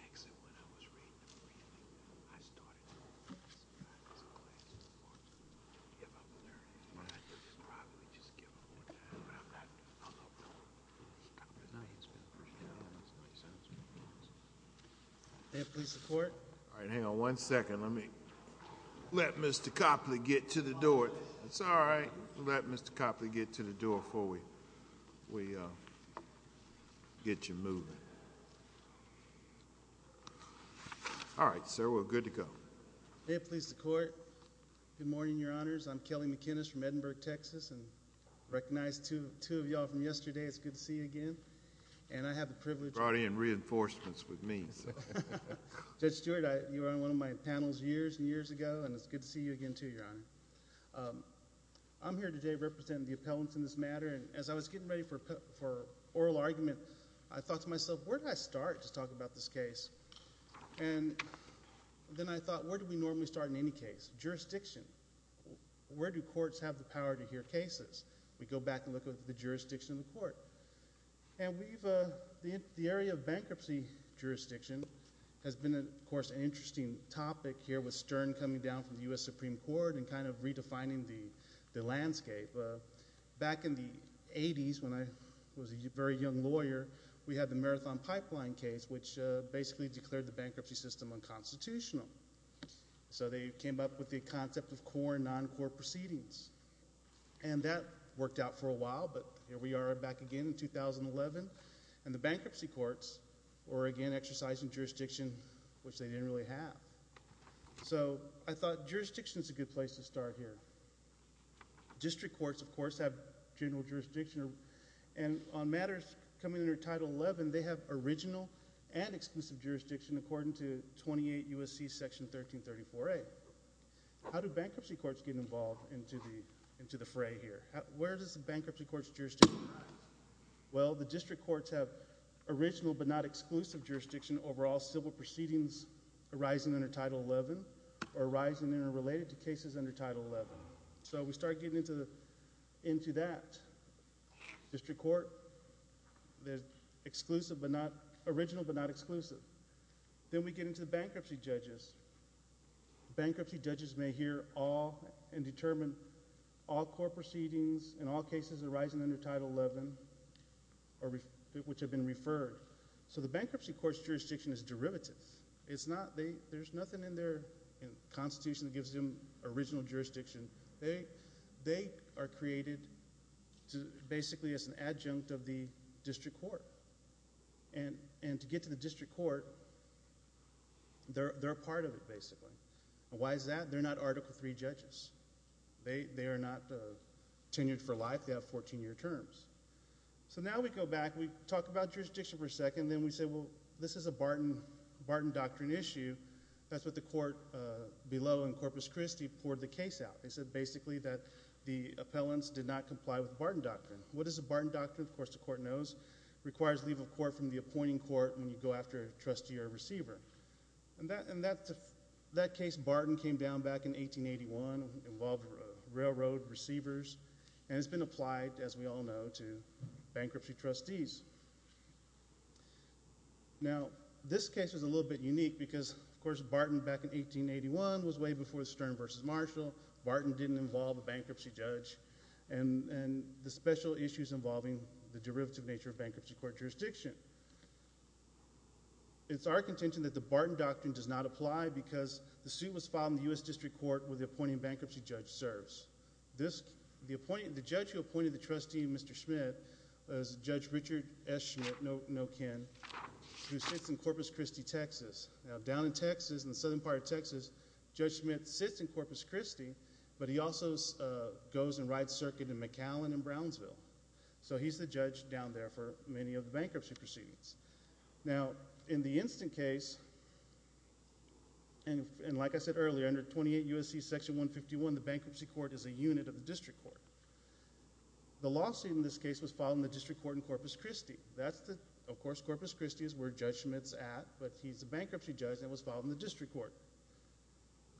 Exit when I was reading the reading, I started to realize that I was in a place where I couldn't give up learning. I could probably just give up on that, but I'm not doing it. I'm not doing it. Mr. Copley, now he's been pretty down on his knees, hasn't he? May I please report? All right, hang on one second. Let me let Mr. Copley get to the door. It's all right. Let Mr. Copley get to the door before we get you moving. All right, sir, we're good to go. May it please the Court, good morning, Your Honors. I'm Kelly McInnis from Edinburgh, Texas, and I recognize two of y'all from yesterday. It's good to see you again, and I have the privilege— Brought in reinforcements with me. Judge Stewart, you were on one of my panels years and years ago, and it's good to see you again too, Your Honor. I'm here today representing the appellants in this matter, and as I was getting ready for oral argument, I thought to myself, where do I start to talk about this case? And then I thought, where do we normally start in any case? Jurisdiction. Where do courts have the power to hear cases? We go back and look at the jurisdiction of the court. And we've—the area of bankruptcy jurisdiction has been, of course, an interesting topic here with Stern coming down from the U.S. Supreme Court and kind of redefining the landscape. Back in the 80s, when I was a very young lawyer, we had the Marathon Pipeline case, which basically declared the bankruptcy system unconstitutional. So they came up with the concept of core and non-core proceedings. And that worked out for a while, but here we are back again in 2011, and the bankruptcy courts were again exercising jurisdiction, which they didn't really have. So I thought jurisdiction is a good place to start here. District courts, of course, have general jurisdiction. And on matters coming under Title 11, they have original and exclusive jurisdiction according to 28 U.S.C. Section 1334A. How do bankruptcy courts get involved into the fray here? Where does the bankruptcy court's jurisdiction lie? Well, the district courts have original but not exclusive jurisdiction over all civil proceedings arising under Title 11 or arising and related to cases under Title 11. So we start getting into that. District court, there's original but not exclusive. Then we get into the bankruptcy judges. Bankruptcy judges may hear all and determine all core proceedings and all cases arising under Title 11 which have been referred. So the bankruptcy court's jurisdiction is derivative. There's nothing in their constitution that gives them original jurisdiction. They are created basically as an adjunct of the district court. And to get to the district court, they're a part of it basically. Why is that? They're not Article III judges. They are not tenured for life. They have 14-year terms. So now we go back. We talk about jurisdiction for a second. Then we say, well, this is a Barton Doctrine issue. That's what the court below in Corpus Christi poured the case out. They said basically that the appellants did not comply with the Barton Doctrine. What is the Barton Doctrine? Of course, the court knows. It requires leave of court from the appointing court when you go after a trustee or a receiver. In that case, Barton came down back in 1881, involved railroad receivers, and it's been applied, as we all know, to bankruptcy trustees. Now, this case is a little bit unique because, of course, Barton back in 1881 was way before Stern v. Marshall. Barton didn't involve a bankruptcy judge, and the special issues involving the derivative nature of bankruptcy court jurisdiction. It's our contention that the Barton Doctrine does not apply because the suit was filed in the U.S. District Court where the appointing bankruptcy judge serves. The judge who appointed the trustee, Mr. Schmidt, was Judge Richard S. Schmidt, no Ken, who sits in Corpus Christi, Texas. Now, down in Texas, in the southern part of Texas, Judge Schmidt sits in Corpus Christi, but he also goes and rides circuit in McAllen and Brownsville. So he's the judge down there for many of the bankruptcy proceedings. Now, in the instant case, and like I said earlier, under 28 U.S.C. Section 151, the bankruptcy court is a unit of the District Court. The lawsuit in this case was filed in the District Court in Corpus Christi. That's the—of course, Corpus Christi is where Judge Schmidt's at, but he's the bankruptcy judge, and it was filed in the District Court.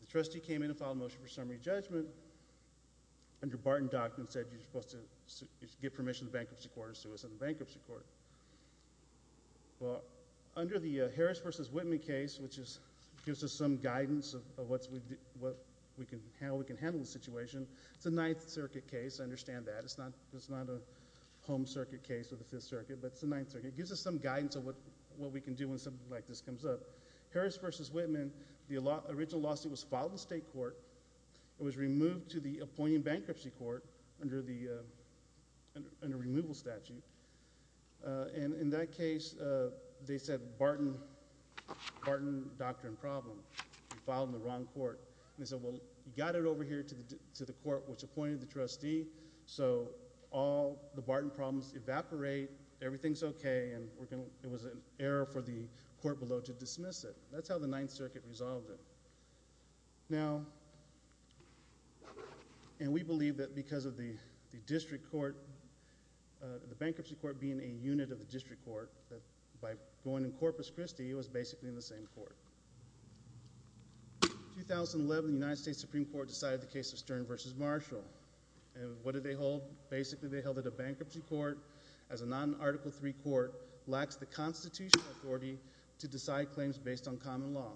The trustee came in and filed a motion for summary judgment, and the Barton Doctrine said you're supposed to give permission to the bankruptcy court and sue us in the bankruptcy court. Well, under the Harris v. Whitman case, which gives us some guidance of what we can—how we can handle the situation. It's a Ninth Circuit case. I understand that. It's not a Home Circuit case with the Fifth Circuit, but it's the Ninth Circuit. It gives us some guidance of what we can do when something like this comes up. Harris v. Whitman, the original lawsuit was filed in the State Court. It was removed to the appointing bankruptcy court under the removal statute. In that case, they said Barton Doctrine problem. It was filed in the wrong court. They said, well, you got it over here to the court which appointed the trustee, so all the Barton problems evaporate, everything's okay, and it was an error for the court below to dismiss it. That's how the Ninth Circuit resolved it. Now—and we believe that because of the District Court, the bankruptcy court being a unit of the District Court, that by going in Corpus Christi, it was basically in the same court. In 2011, the United States Supreme Court decided the case of Stern v. Marshall, and what did they hold? Basically, they held that a bankruptcy court as a non-Article III court lacks the constitutional authority to decide claims based on common law.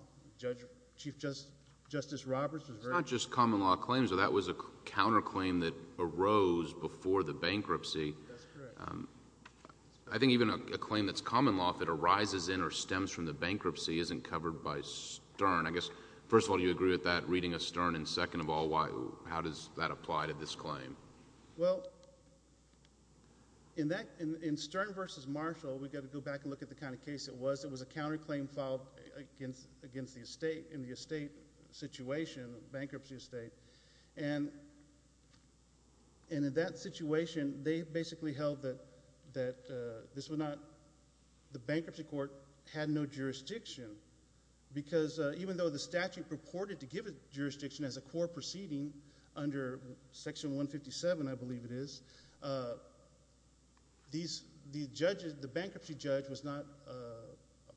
Chief Justice Roberts was very— It's not just common law claims. So that was a counterclaim that arose before the bankruptcy. That's correct. I think even a claim that's common law, if it arises in or stems from the bankruptcy, isn't covered by Stern. I guess, first of all, do you agree with that, reading a Stern, and second of all, how does that apply to this claim? Well, in Stern v. Marshall, we've got to go back and look at the kind of case it was. It was a counterclaim filed against the estate in the estate situation, a bankruptcy estate. In that situation, they basically held that this was not— the bankruptcy court had no jurisdiction because even though the statute purported to give it jurisdiction as a core proceeding under Section 157, I believe it is, the bankruptcy judge was not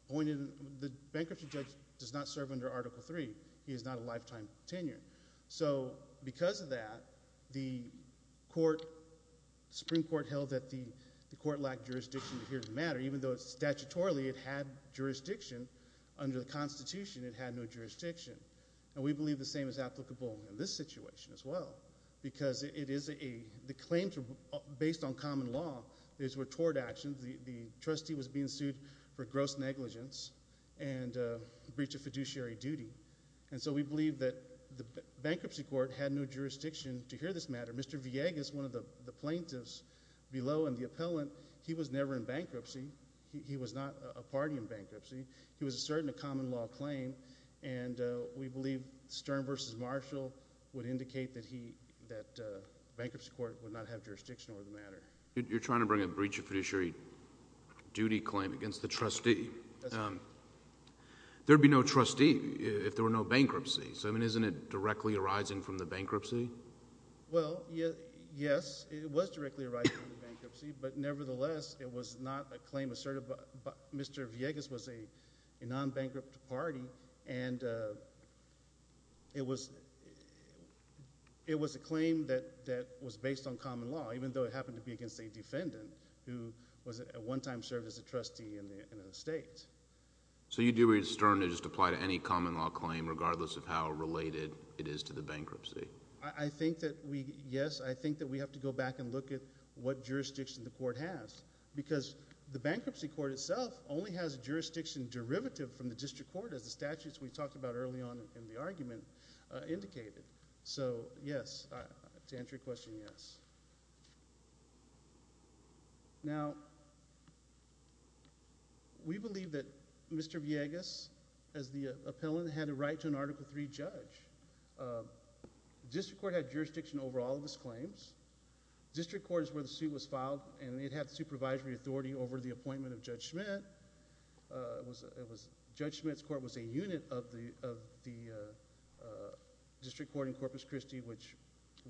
appointed. The bankruptcy judge does not serve under Article III. He has not a lifetime tenure. So because of that, the Supreme Court held that the court lacked jurisdiction to hear the matter, even though statutorily it had jurisdiction. Under the Constitution, it had no jurisdiction. And we believe the same is applicable in this situation as well because it is a—the claims are based on common law. These were tort actions. The trustee was being sued for gross negligence and breach of fiduciary duty. And so we believe that the bankruptcy court had no jurisdiction to hear this matter. Mr. Villegas, one of the plaintiffs below and the appellant, he was never in bankruptcy. He was not a party in bankruptcy. He was asserting a common law claim. And we believe Stern v. Marshall would indicate that he— that the bankruptcy court would not have jurisdiction over the matter. You're trying to bring a breach of fiduciary duty claim against the trustee. That's right. There would be no trustee if there were no bankruptcy. So, I mean, isn't it directly arising from the bankruptcy? Well, yes, it was directly arising from the bankruptcy. But nevertheless, it was not a claim asserted by— Mr. Villegas was a non-bankrupt party, and it was a claim that was based on common law, even though it happened to be against a defendant who was at one time served as a trustee in the state. So you do read Stern to just apply to any common law claim regardless of how related it is to the bankruptcy? I think that we—yes, I think that we have to go back and look at what jurisdiction the court has because the bankruptcy court itself only has jurisdiction derivative from the district court as the statutes we talked about early on in the argument indicated. So, yes, to answer your question, yes. Now, we believe that Mr. Villegas, as the appellant, had a right to an Article III judge. The district court had jurisdiction over all of his claims. The district court is where the suit was filed, and it had supervisory authority over the appointment of Judge Schmitt. Judge Schmitt's court was a unit of the district court in Corpus Christi, which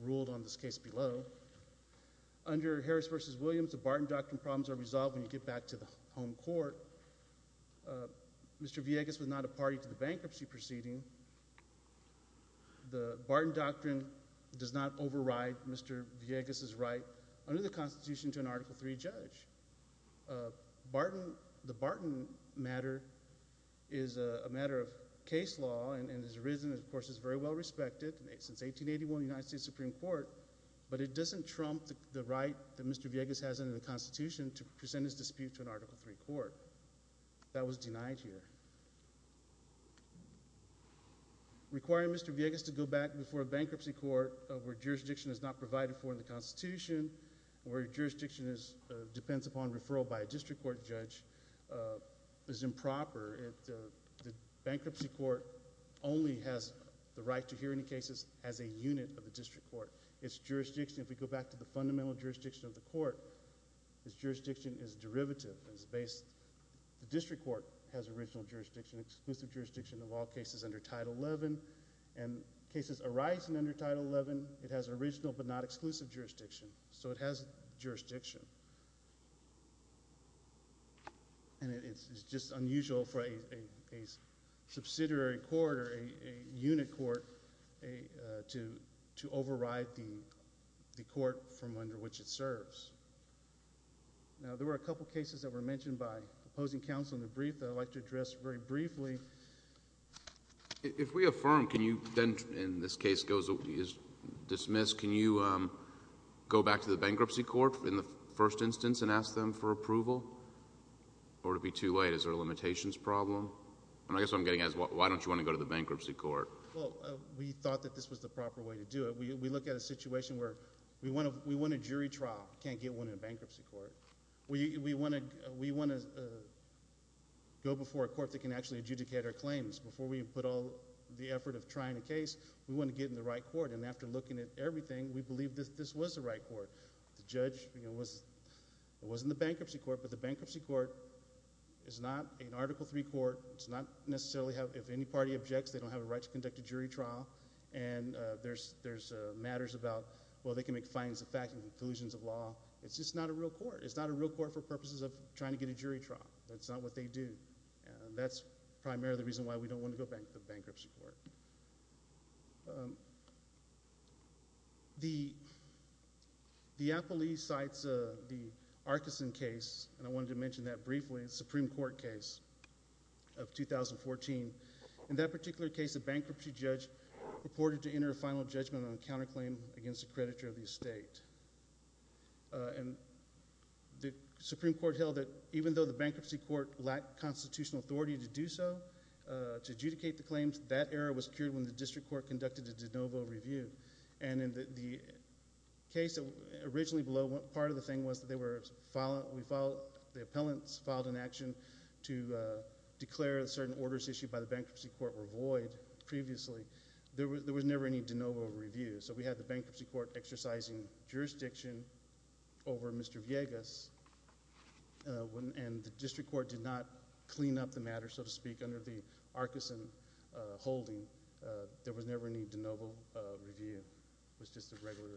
ruled on this case below. Under Harris v. Williams, the Barton Doctrine problems are resolved when you get back to the home court. Mr. Villegas was not a party to the bankruptcy proceeding. The Barton Doctrine does not override Mr. Villegas' right under the Constitution to an Article III judge. The Barton matter is a matter of case law and has arisen and, of course, is very well respected since 1881 in the United States Supreme Court, but it doesn't trump the right that Mr. Villegas has under the Constitution to present his dispute to an Article III court. That was denied here. Requiring Mr. Villegas to go back before a bankruptcy court where jurisdiction is not provided for in the Constitution or jurisdiction depends upon referral by a district court judge is improper. The bankruptcy court only has the right to hear any cases as a unit of the district court. Its jurisdiction, if we go back to the fundamental jurisdiction of the court, its jurisdiction is derivative. The district court has original jurisdiction, exclusive jurisdiction of all cases under Title XI, and cases arising under Title XI, it has original but not exclusive jurisdiction, so it has jurisdiction. And it's just unusual for a subsidiary court or a unit court to override the court from under which it serves. Now, there were a couple cases that were mentioned by opposing counsel in the brief that I'd like to address very briefly. If we affirm, can you then, and this case is dismissed, can you go back to the bankruptcy court in the first instance and ask them for approval? Or would it be too late? Is there a limitations problem? I guess what I'm getting at is why don't you want to go to the bankruptcy court? Well, we thought that this was the proper way to do it. We look at a situation where we want a jury trial. Can't get one in a bankruptcy court. We want to go before a court that can actually adjudicate our claims. Before we put all the effort of trying a case, we want to get in the right court, and after looking at everything, we believe that this was the right court. The judge was in the bankruptcy court, but the bankruptcy court is not an Article III court. It's not necessarily, if any party objects, they don't have a right to conduct a jury trial. And there's matters about, well, they can make findings of fact and conclusions of law. It's just not a real court. It's not a real court for purposes of trying to get a jury trial. That's not what they do. And that's primarily the reason why we don't want to go back to the bankruptcy court. The Appellee Cites the Arkison case, and I wanted to mention that briefly, the Supreme Court case of 2014. In that particular case, a bankruptcy judge reported to enter a final judgment on a counterclaim against a creditor of the estate. And the Supreme Court held that even though the bankruptcy court lacked constitutional authority to do so, to adjudicate the claims, that error was cured when the district court conducted a de novo review. And in the case originally below, part of the thing was that the appellants filed an action to declare that certain orders issued by the bankruptcy court were void previously. There was never any de novo review. So we had the bankruptcy court exercising jurisdiction over Mr. Villegas, and the district court did not clean up the matter, so to speak, under the Arkison holding. There was never any de novo review. It was just a regular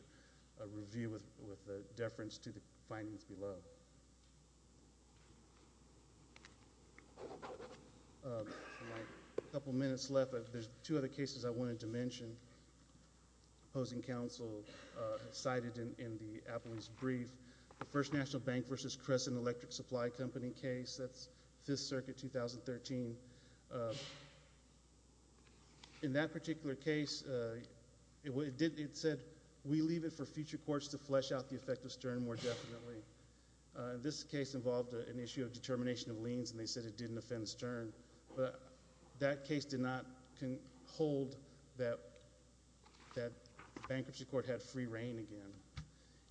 review with a deference to the findings below. A couple minutes left. There's two other cases I wanted to mention. Opposing counsel cited in the appellant's brief, the First National Bank v. Crescent Electric Supply Company case. That's Fifth Circuit, 2013. In that particular case, it said we leave it for future courts to flesh out the effect of Stern more definitely. This case involved an issue of determination of liens, and they said it didn't offend Stern. But that case did not hold that the bankruptcy court had free reign again.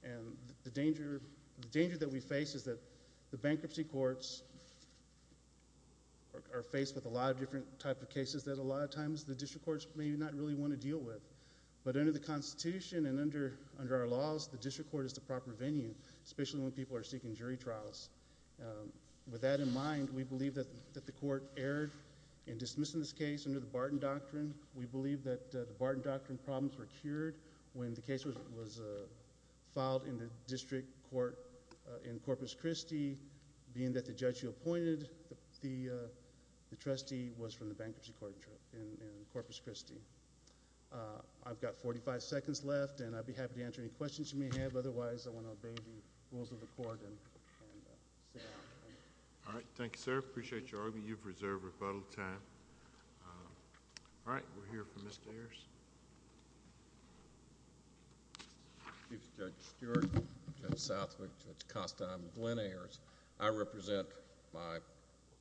And the danger that we face is that the bankruptcy courts are faced with a lot of different types of cases that a lot of times the district courts may not really want to deal with. But under the Constitution and under our laws, the district court is the proper venue, especially when people are seeking jury trials. With that in mind, we believe that the court erred in dismissing this case under the Barton Doctrine. We believe that the Barton Doctrine problems were cured when the case was filed in the district court in Corpus Christi, being that the judge who appointed the trustee was from the bankruptcy court in Corpus Christi. I've got 45 seconds left, and I'd be happy to answer any questions you may have. Otherwise, I want to obey the rules of the court and sit down. All right, thank you, sir. I appreciate your argument. You've reserved rebuttal time. All right, we'll hear from Mr. Ayers. Thank you, Judge Stewart, Judge Southwick, Judge Costa. I'm Glenn Ayers. I represent my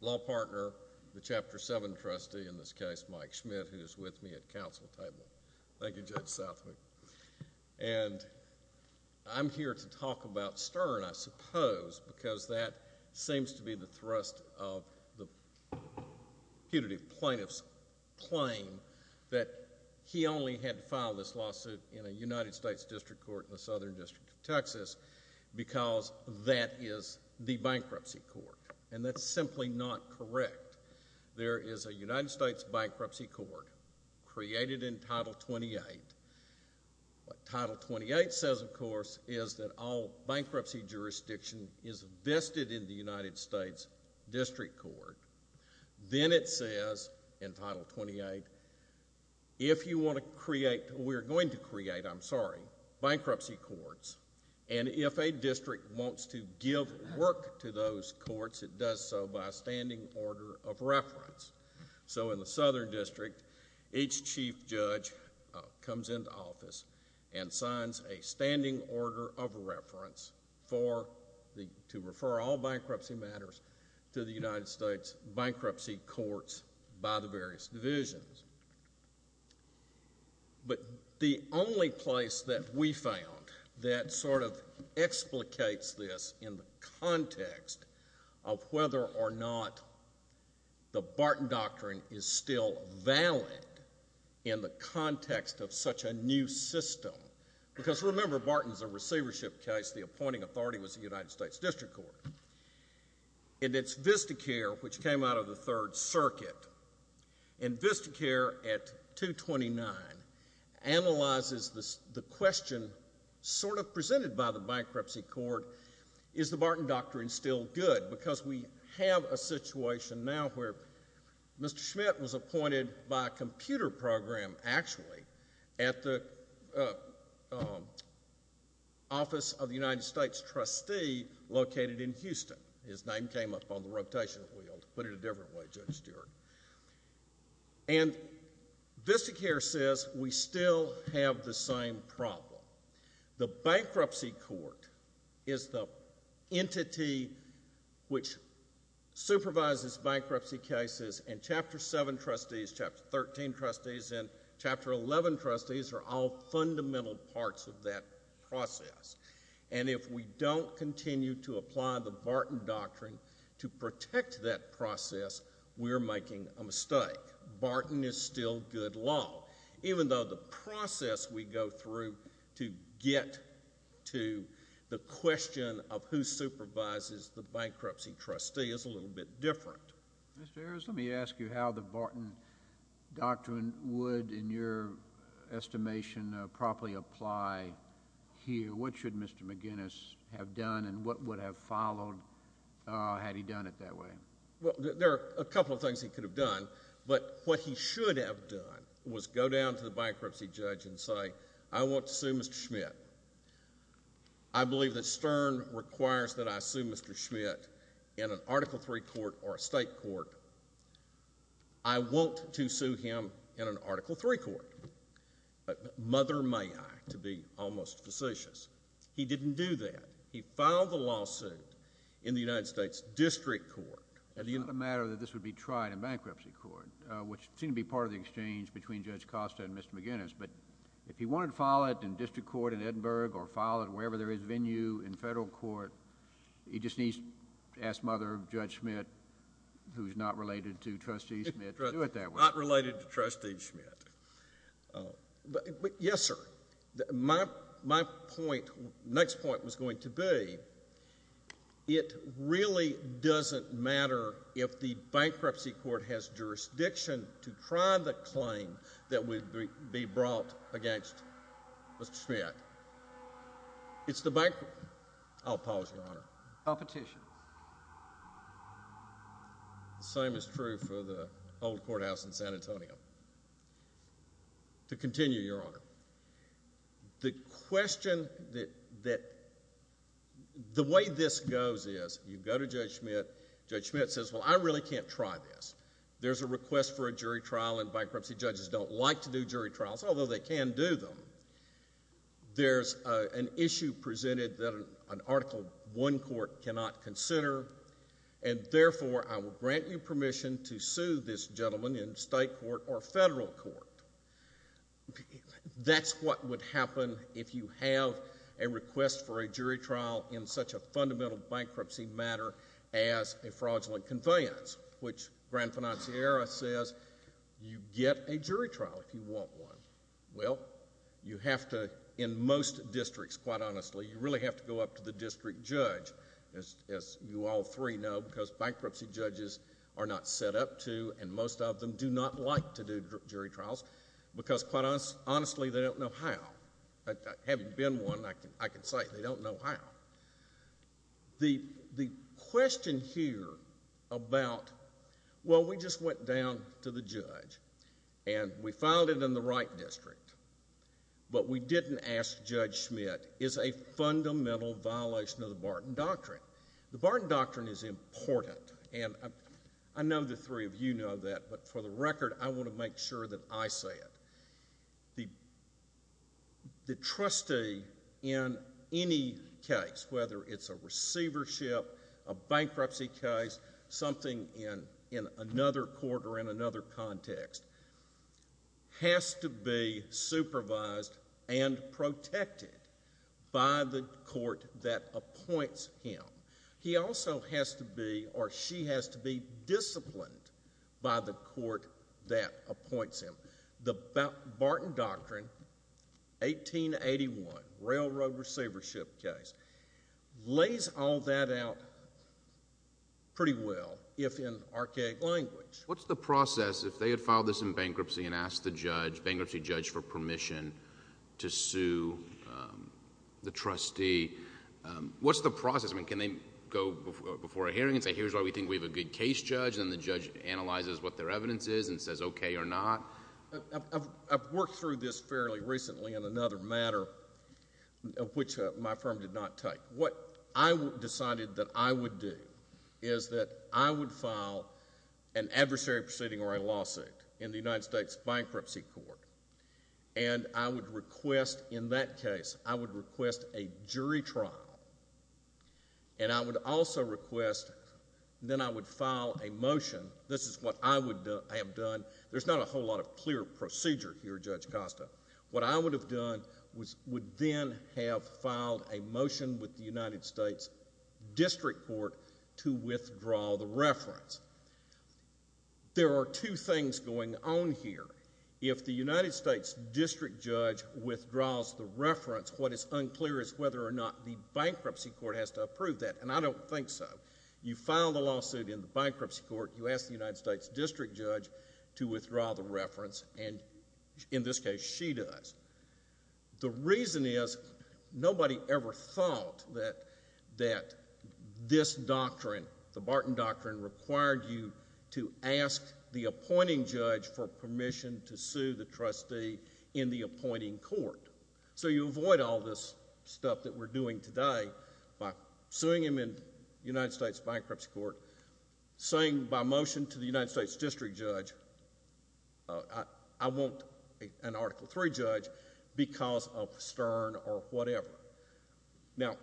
law partner, the Chapter 7 trustee in this case, Mike Schmidt, who is with me at counsel table. Thank you, Judge Southwick. And I'm here to talk about Stern, I suppose, because that seems to be the thrust of the putative plaintiff's claim that he only had to file this lawsuit in a United States district court in the Southern District of Texas because that is the bankruptcy court, and that's simply not correct. There is a United States bankruptcy court created in Title 28. What Title 28 says, of course, is that all bankruptcy jurisdiction is vested in the United States district court. Then it says in Title 28, if you want to create, or we're going to create, I'm sorry, bankruptcy courts, and if a district wants to give work to those courts, it does so by a standing order of reference. So in the Southern District, each chief judge comes into office and signs a standing order of reference to refer all bankruptcy matters to the United States bankruptcy courts by the various divisions. But the only place that we found that sort of explicates this in the context of whether or not the Barton Doctrine is still valid in the context of such a new system, because remember, Barton is a receivership case. The appointing authority was the United States district court. And it's Vistacare, which came out of the Third Circuit. And Vistacare at 229 analyzes the question sort of presented by the bankruptcy court, is the Barton Doctrine still good? Because we have a situation now where Mr. Schmidt was appointed by a computer program, actually, at the office of the United States trustee located in Houston. His name came up on the rotation wheel, to put it a different way, Judge Stewart. And Vistacare says we still have the same problem. The bankruptcy court is the entity which supervises bankruptcy cases, and Chapter 7 trustees, Chapter 13 trustees, and Chapter 11 trustees are all fundamental parts of that process. And if we don't continue to apply the Barton Doctrine to protect that process, we're making a mistake. Barton is still good law. Even though the process we go through to get to the question of who supervises the bankruptcy trustee is a little bit different. Mr. Ayers, let me ask you how the Barton Doctrine would, in your estimation, properly apply here. What should Mr. McGinnis have done and what would have followed had he done it that way? Well, there are a couple of things he could have done. But what he should have done was go down to the bankruptcy judge and say, I want to sue Mr. Schmidt. I believe that Stern requires that I sue Mr. Schmidt in an Article III court or a state court. I want to sue him in an Article III court. But mother may I, to be almost facetious, he didn't do that. He filed the lawsuit in the United States District Court. It's not a matter that this would be tried in bankruptcy court, which seemed to be part of the exchange between Judge Costa and Mr. McGinnis. But if he wanted to file it in district court in Edinburgh or file it wherever there is venue in federal court, he just needs to ask mother of Judge Schmidt, who is not related to Trustee Schmidt, to do it that way. Not related to Trustee Schmidt. Yes, sir. My point, next point was going to be, it really doesn't matter if the bankruptcy court has jurisdiction to try the claim that would be brought against Mr. Schmidt. It's the bank—I'll pause, Your Honor. I'll petition. The same is true for the old courthouse in San Antonio. To continue, Your Honor, the question that—the way this goes is you go to Judge Schmidt. Judge Schmidt says, well, I really can't try this. There's a request for a jury trial, and bankruptcy judges don't like to do jury trials, although they can do them. There's an issue presented that an Article I court cannot consider, and therefore I will grant you permission to sue this gentleman in state court or federal court. That's what would happen if you have a request for a jury trial in such a fundamental bankruptcy matter as a fraudulent conveyance, which Grand Financiera says you get a jury trial if you want one. Well, you have to, in most districts, quite honestly, you really have to go up to the district judge, as you all three know, because bankruptcy judges are not set up to, and most of them do not like to do jury trials because, quite honestly, they don't know how. Having been one, I can say they don't know how. The question here about, well, we just went down to the judge, and we filed it in the right district, but we didn't ask Judge Schmidt, is a fundamental violation of the Barton Doctrine. The Barton Doctrine is important, and I know the three of you know that, but for the record, I want to make sure that I say it. The trustee in any case, whether it's a receivership, a bankruptcy case, something in another court or in another context, has to be supervised and protected by the court that appoints him. He also has to be, or she has to be, disciplined by the court that appoints him. The Barton Doctrine, 1881, railroad receivership case, lays all that out pretty well, if in archaic language. What's the process if they had filed this in bankruptcy and asked the judge, bankruptcy judge, for permission to sue the trustee? What's the process? I mean, can they go before a hearing and say, here's why we think we have a good case, judge, and the judge analyzes what their evidence is and says okay or not? I've worked through this fairly recently in another matter, which my firm did not take. What I decided that I would do is that I would file an adversary proceeding or a lawsuit in the United States Bankruptcy Court, and I would request, in that case, I would request a jury trial, and I would also request, then I would file a motion. This is what I would have done. There's not a whole lot of clear procedure here, Judge Costa. What I would have done would then have filed a motion with the United States District Court to withdraw the reference. There are two things going on here. If the United States District Judge withdraws the reference, what is unclear is whether or not the Bankruptcy Court has to approve that, and I don't think so. You file the lawsuit in the Bankruptcy Court. You ask the United States District Judge to withdraw the reference, and in this case, she does. The reason is nobody ever thought that this doctrine, the Barton Doctrine, required you to ask the appointing judge for permission to sue the trustee in the appointing court. So you avoid all this stuff that we're doing today by suing him in the United States Bankruptcy Court, saying by motion to the United States District Judge, I want an Article III judge because of Stern or whatever. Now,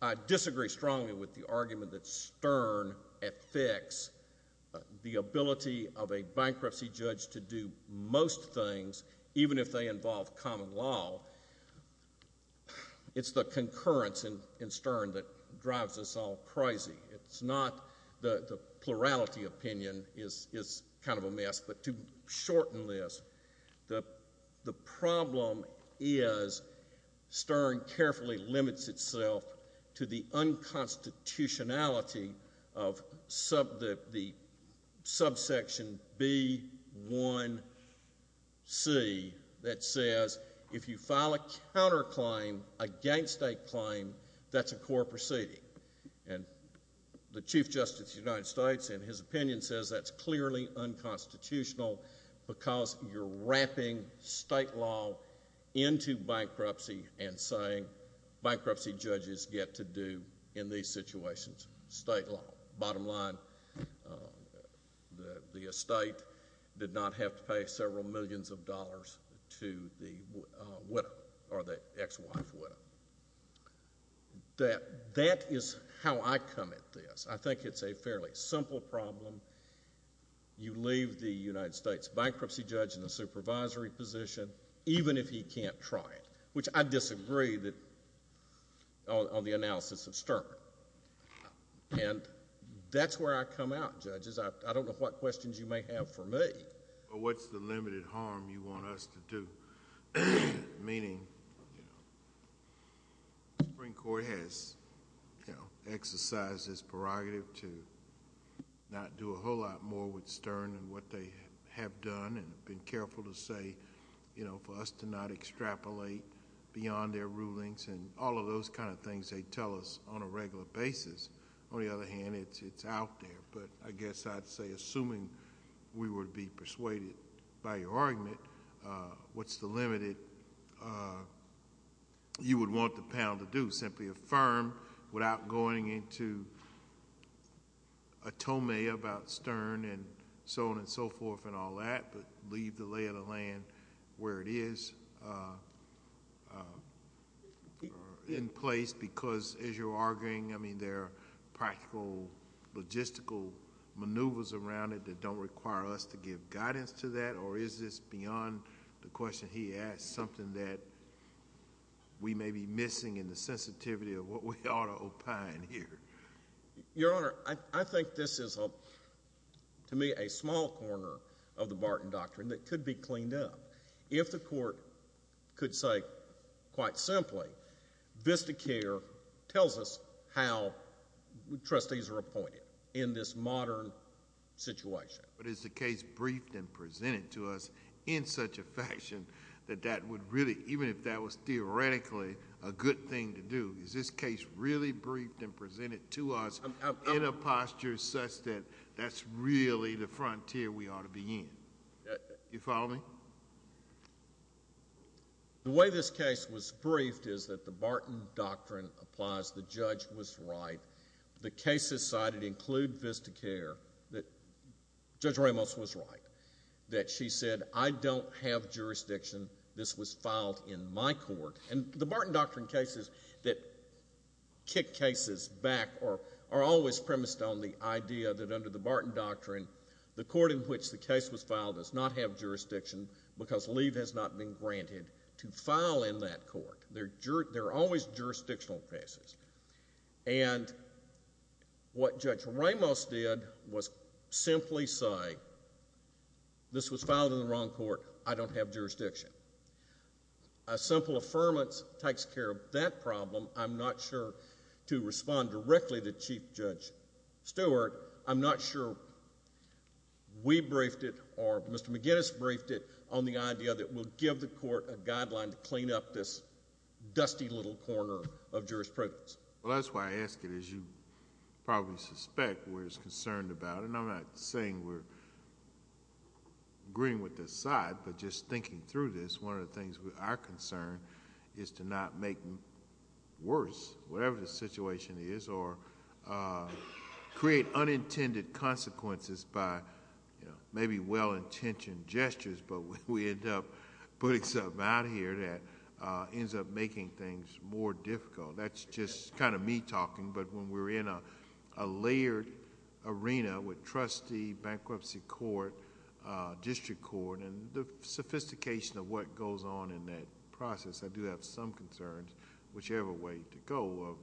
I disagree strongly with the argument that Stern affects the ability of a bankruptcy judge to do most things, even if they involve common law. It's the concurrence in Stern that drives us all crazy. The plurality opinion is kind of a mess, but to shorten this, the problem is Stern carefully limits itself to the unconstitutionality of the subsection B1C that says if you file a counterclaim against a claim, that's a court proceeding. And the Chief Justice of the United States, in his opinion, says that's clearly unconstitutional because you're wrapping state law into bankruptcy and saying bankruptcy judges get to do in these situations, state law. Bottom line, the estate did not have to pay several millions of dollars to the widow or the ex-wife widow. That is how I come at this. I think it's a fairly simple problem. You leave the United States bankruptcy judge in the supervisory position, even if he can't try it, which I disagree on the analysis of Stern. And that's where I come out, judges. I don't know what questions you may have for me. What's the limited harm you want us to do? Meaning the Supreme Court has exercised this prerogative to not do a whole lot more with Stern than what they have done and have been careful to say for us to not extrapolate beyond their rulings and all of those kind of things they tell us on a regular basis. On the other hand, it's out there. But I guess I'd say, assuming we were to be persuaded by your argument, what's the limited you would want the panel to do? Simply affirm without going into a tome about Stern and so on and so forth and all that, but leave the lay of the land where it is in place because, as you're arguing, I mean there are practical, logistical maneuvers around it that don't require us to give guidance to that, or is this beyond the question he asked, something that we may be missing in the sensitivity of what we ought to opine here? Your Honor, I think this is, to me, a small corner of the Barton Doctrine that could be cleaned up if the court could say, quite simply, VISTA care tells us how trustees are appointed in this modern situation. But is the case briefed and presented to us in such a fashion that that would really, even if that was theoretically a good thing to do, is this case really briefed and presented to us in a posture such that that's really the frontier we ought to be in? You follow me? The way this case was briefed is that the Barton Doctrine applies. The judge was right. The cases cited include VISTA care. Judge Ramos was right that she said, I don't have jurisdiction. This was filed in my court. And the Barton Doctrine cases that kick cases back are always premised on the idea that under the Barton Doctrine, the court in which the case was filed does not have jurisdiction because leave has not been granted to file in that court. They're always jurisdictional cases. And what Judge Ramos did was simply say, this was filed in the wrong court. I don't have jurisdiction. A simple affirmance takes care of that problem. I'm not sure to respond directly to Chief Judge Stewart. I'm not sure we briefed it or Mr. McGinnis briefed it on the idea that we'll give the court a guideline to clean up this dusty little corner of jurisprudence. Well, that's why I ask it. As you probably suspect, we're concerned about it. And I'm not saying we're agreeing with this side, but just thinking through this, one of the things we are concerned is to not make worse, whatever the situation is, or create unintended consequences by maybe well-intentioned gestures. But we end up putting something out here that ends up making things more difficult. That's just kind of me talking. But when we're in a layered arena with trustee, bankruptcy court, district court, and the sophistication of what goes on in that process, I do have some concerns, whichever way to go, of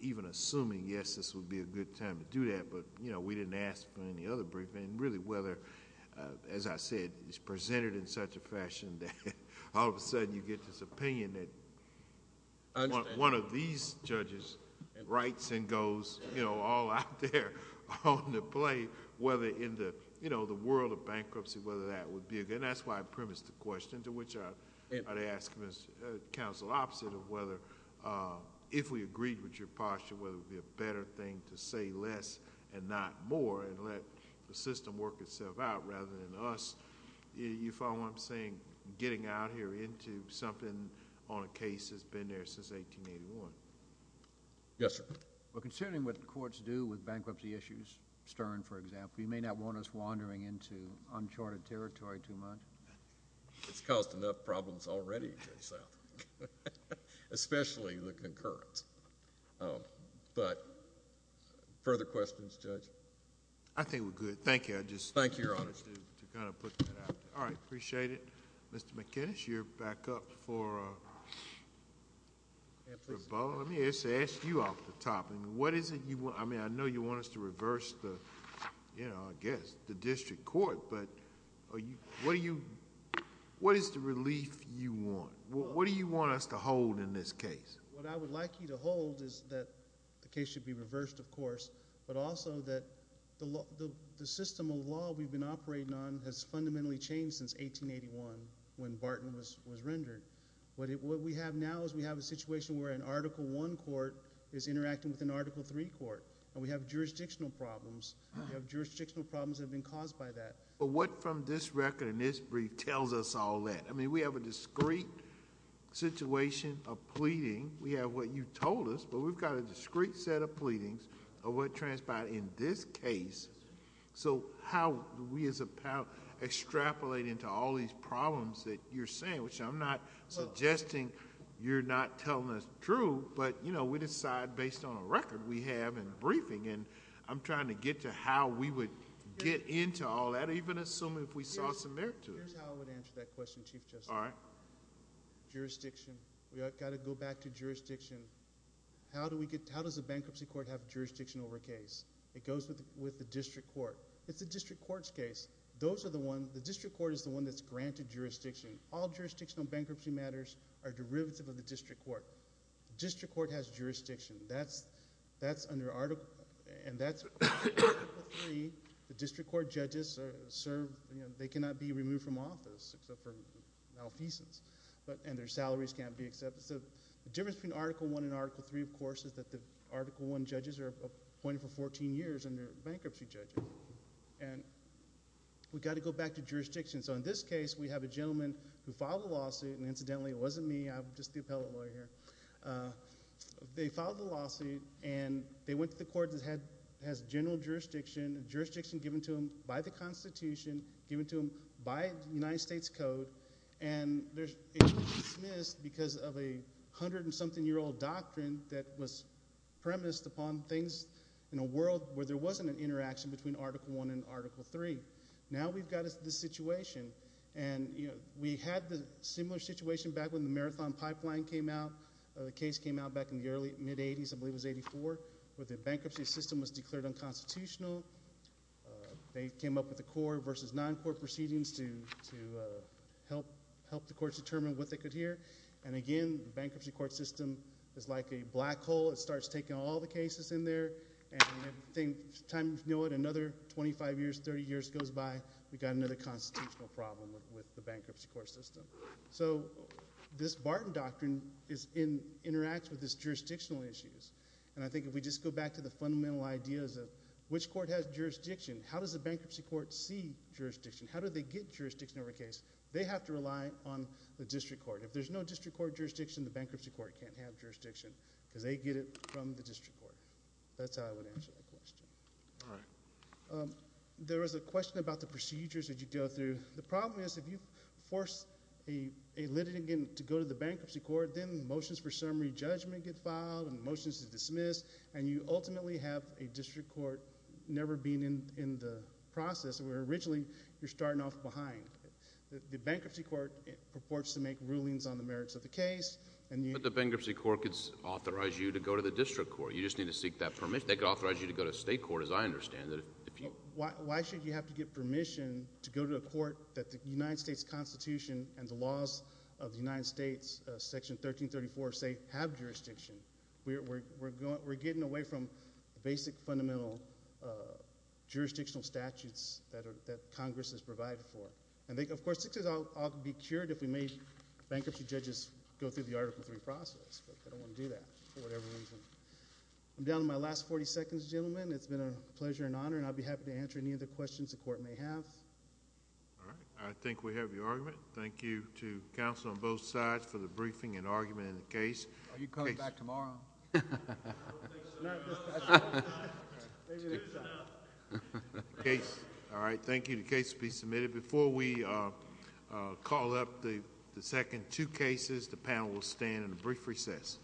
even assuming, yes, this would be a good time to do that. But we didn't ask for any other briefing. Really, whether, as I said, it's presented in such a fashion that all of a sudden you get this opinion that... writes and goes all out there on the play. Whether in the world of bankruptcy, whether that would be a good... And that's why I premised the question, to which I'd ask counsel opposite of whether, if we agreed with your posture, whether it would be a better thing to say less and not more and let the system work itself out rather than us... Yes, sir. Well, considering what the courts do with bankruptcy issues, Stern, for example, you may not want us wandering into uncharted territory too much. It's caused enough problems already, Judge Southam, especially the concurrence. But further questions, Judge? I think we're good. Thank you. Thank you, Your Honor. I just wanted to kind of put that out there. All right. Appreciate it. Mr. McInnis, you're back up for... Rebola, let me ask you off the top. I know you want us to reverse the district court, but what is the relief you want? What do you want us to hold in this case? What I would like you to hold is that the case should be reversed, of course, but also that the system of law we've been operating on has fundamentally changed since 1881 when Barton was rendered. What we have now is we have a situation where an Article I court is interacting with an Article III court, and we have jurisdictional problems. We have jurisdictional problems that have been caused by that. But what from this record and this brief tells us all that? I mean, we have a discrete situation of pleading. We have what you told us, but we've got a discrete set of pleadings of what transpired in this case. How we as a power extrapolate into all these problems that you're saying, which I'm not suggesting you're not telling us true, but we decide based on a record we have in briefing. I'm trying to get to how we would get into all that, even assuming if we saw some merit to it. Here's how I would answer that question, Chief Justice. All right. Jurisdiction. We've got to go back to jurisdiction. How does a bankruptcy court have jurisdiction over a case? It goes with the district court. It's a district court's case. The district court is the one that's granted jurisdiction. All jurisdictional bankruptcy matters are derivative of the district court. The district court has jurisdiction. That's under Article III. The district court judges are served. They cannot be removed from office except for malfeasance, and their salaries can't be accepted. The difference between Article I and Article III, of course, is that the Article I judges are appointed for 14 years, and they're bankruptcy judges. We've got to go back to jurisdiction. In this case, we have a gentleman who filed a lawsuit. Incidentally, it wasn't me. I'm just the appellate lawyer here. They filed the lawsuit, and they went to the court that has general jurisdiction, jurisdiction given to them by the Constitution, given to them by the United States Code. It was dismissed because of a hundred-and-something-year-old doctrine that was premised upon things in a world where there wasn't an interaction between Article I and Article III. Now we've got this situation. We had the similar situation back when the Marathon Pipeline came out. The case came out back in the early, mid-'80s. I believe it was 84, where the bankruptcy system was declared unconstitutional. They came up with a court versus non-court proceedings to help the courts determine what they could hear. And again, the bankruptcy court system is like a black hole. It starts taking all the cases in there, and time, you know it, another 25 years, 30 years goes by, we've got another constitutional problem with the bankruptcy court system. So this Barton Doctrine interacts with these jurisdictional issues. And I think if we just go back to the fundamental ideas of which court has jurisdiction, how does the bankruptcy court see jurisdiction, how do they get jurisdiction over a case, they have to rely on the district court. If there's no district court jurisdiction, the bankruptcy court can't have jurisdiction because they get it from the district court. That's how I would answer that question. All right. There was a question about the procedures that you go through. The problem is if you force a litigant to go to the bankruptcy court, then motions for summary judgment get filed and motions to dismiss, and you ultimately have a district court never being in the process where originally you're starting off behind. The bankruptcy court purports to make rulings on the merits of the case. But the bankruptcy court could authorize you to go to the district court. You just need to seek that permission. They could authorize you to go to state court, as I understand it. Why should you have to get permission to go to a court that the United States Constitution and the laws of the United States, Section 1334, say have jurisdiction? We're getting away from basic fundamental jurisdictional statutes that Congress has provided for. And, of course, I'll be cured if we make bankruptcy judges go through the Article III process, but I don't want to do that for whatever reason. I'm down to my last 40 seconds, gentlemen. It's been a pleasure and honor, and I'll be happy to answer any other questions the court may have. All right. I think we have your argument. Thank you to counsel on both sides for the briefing and argument in the case. Are you coming back tomorrow? All right. Thank you. The case will be submitted. Before we call up the second two cases, the panel will stand in a brief recess.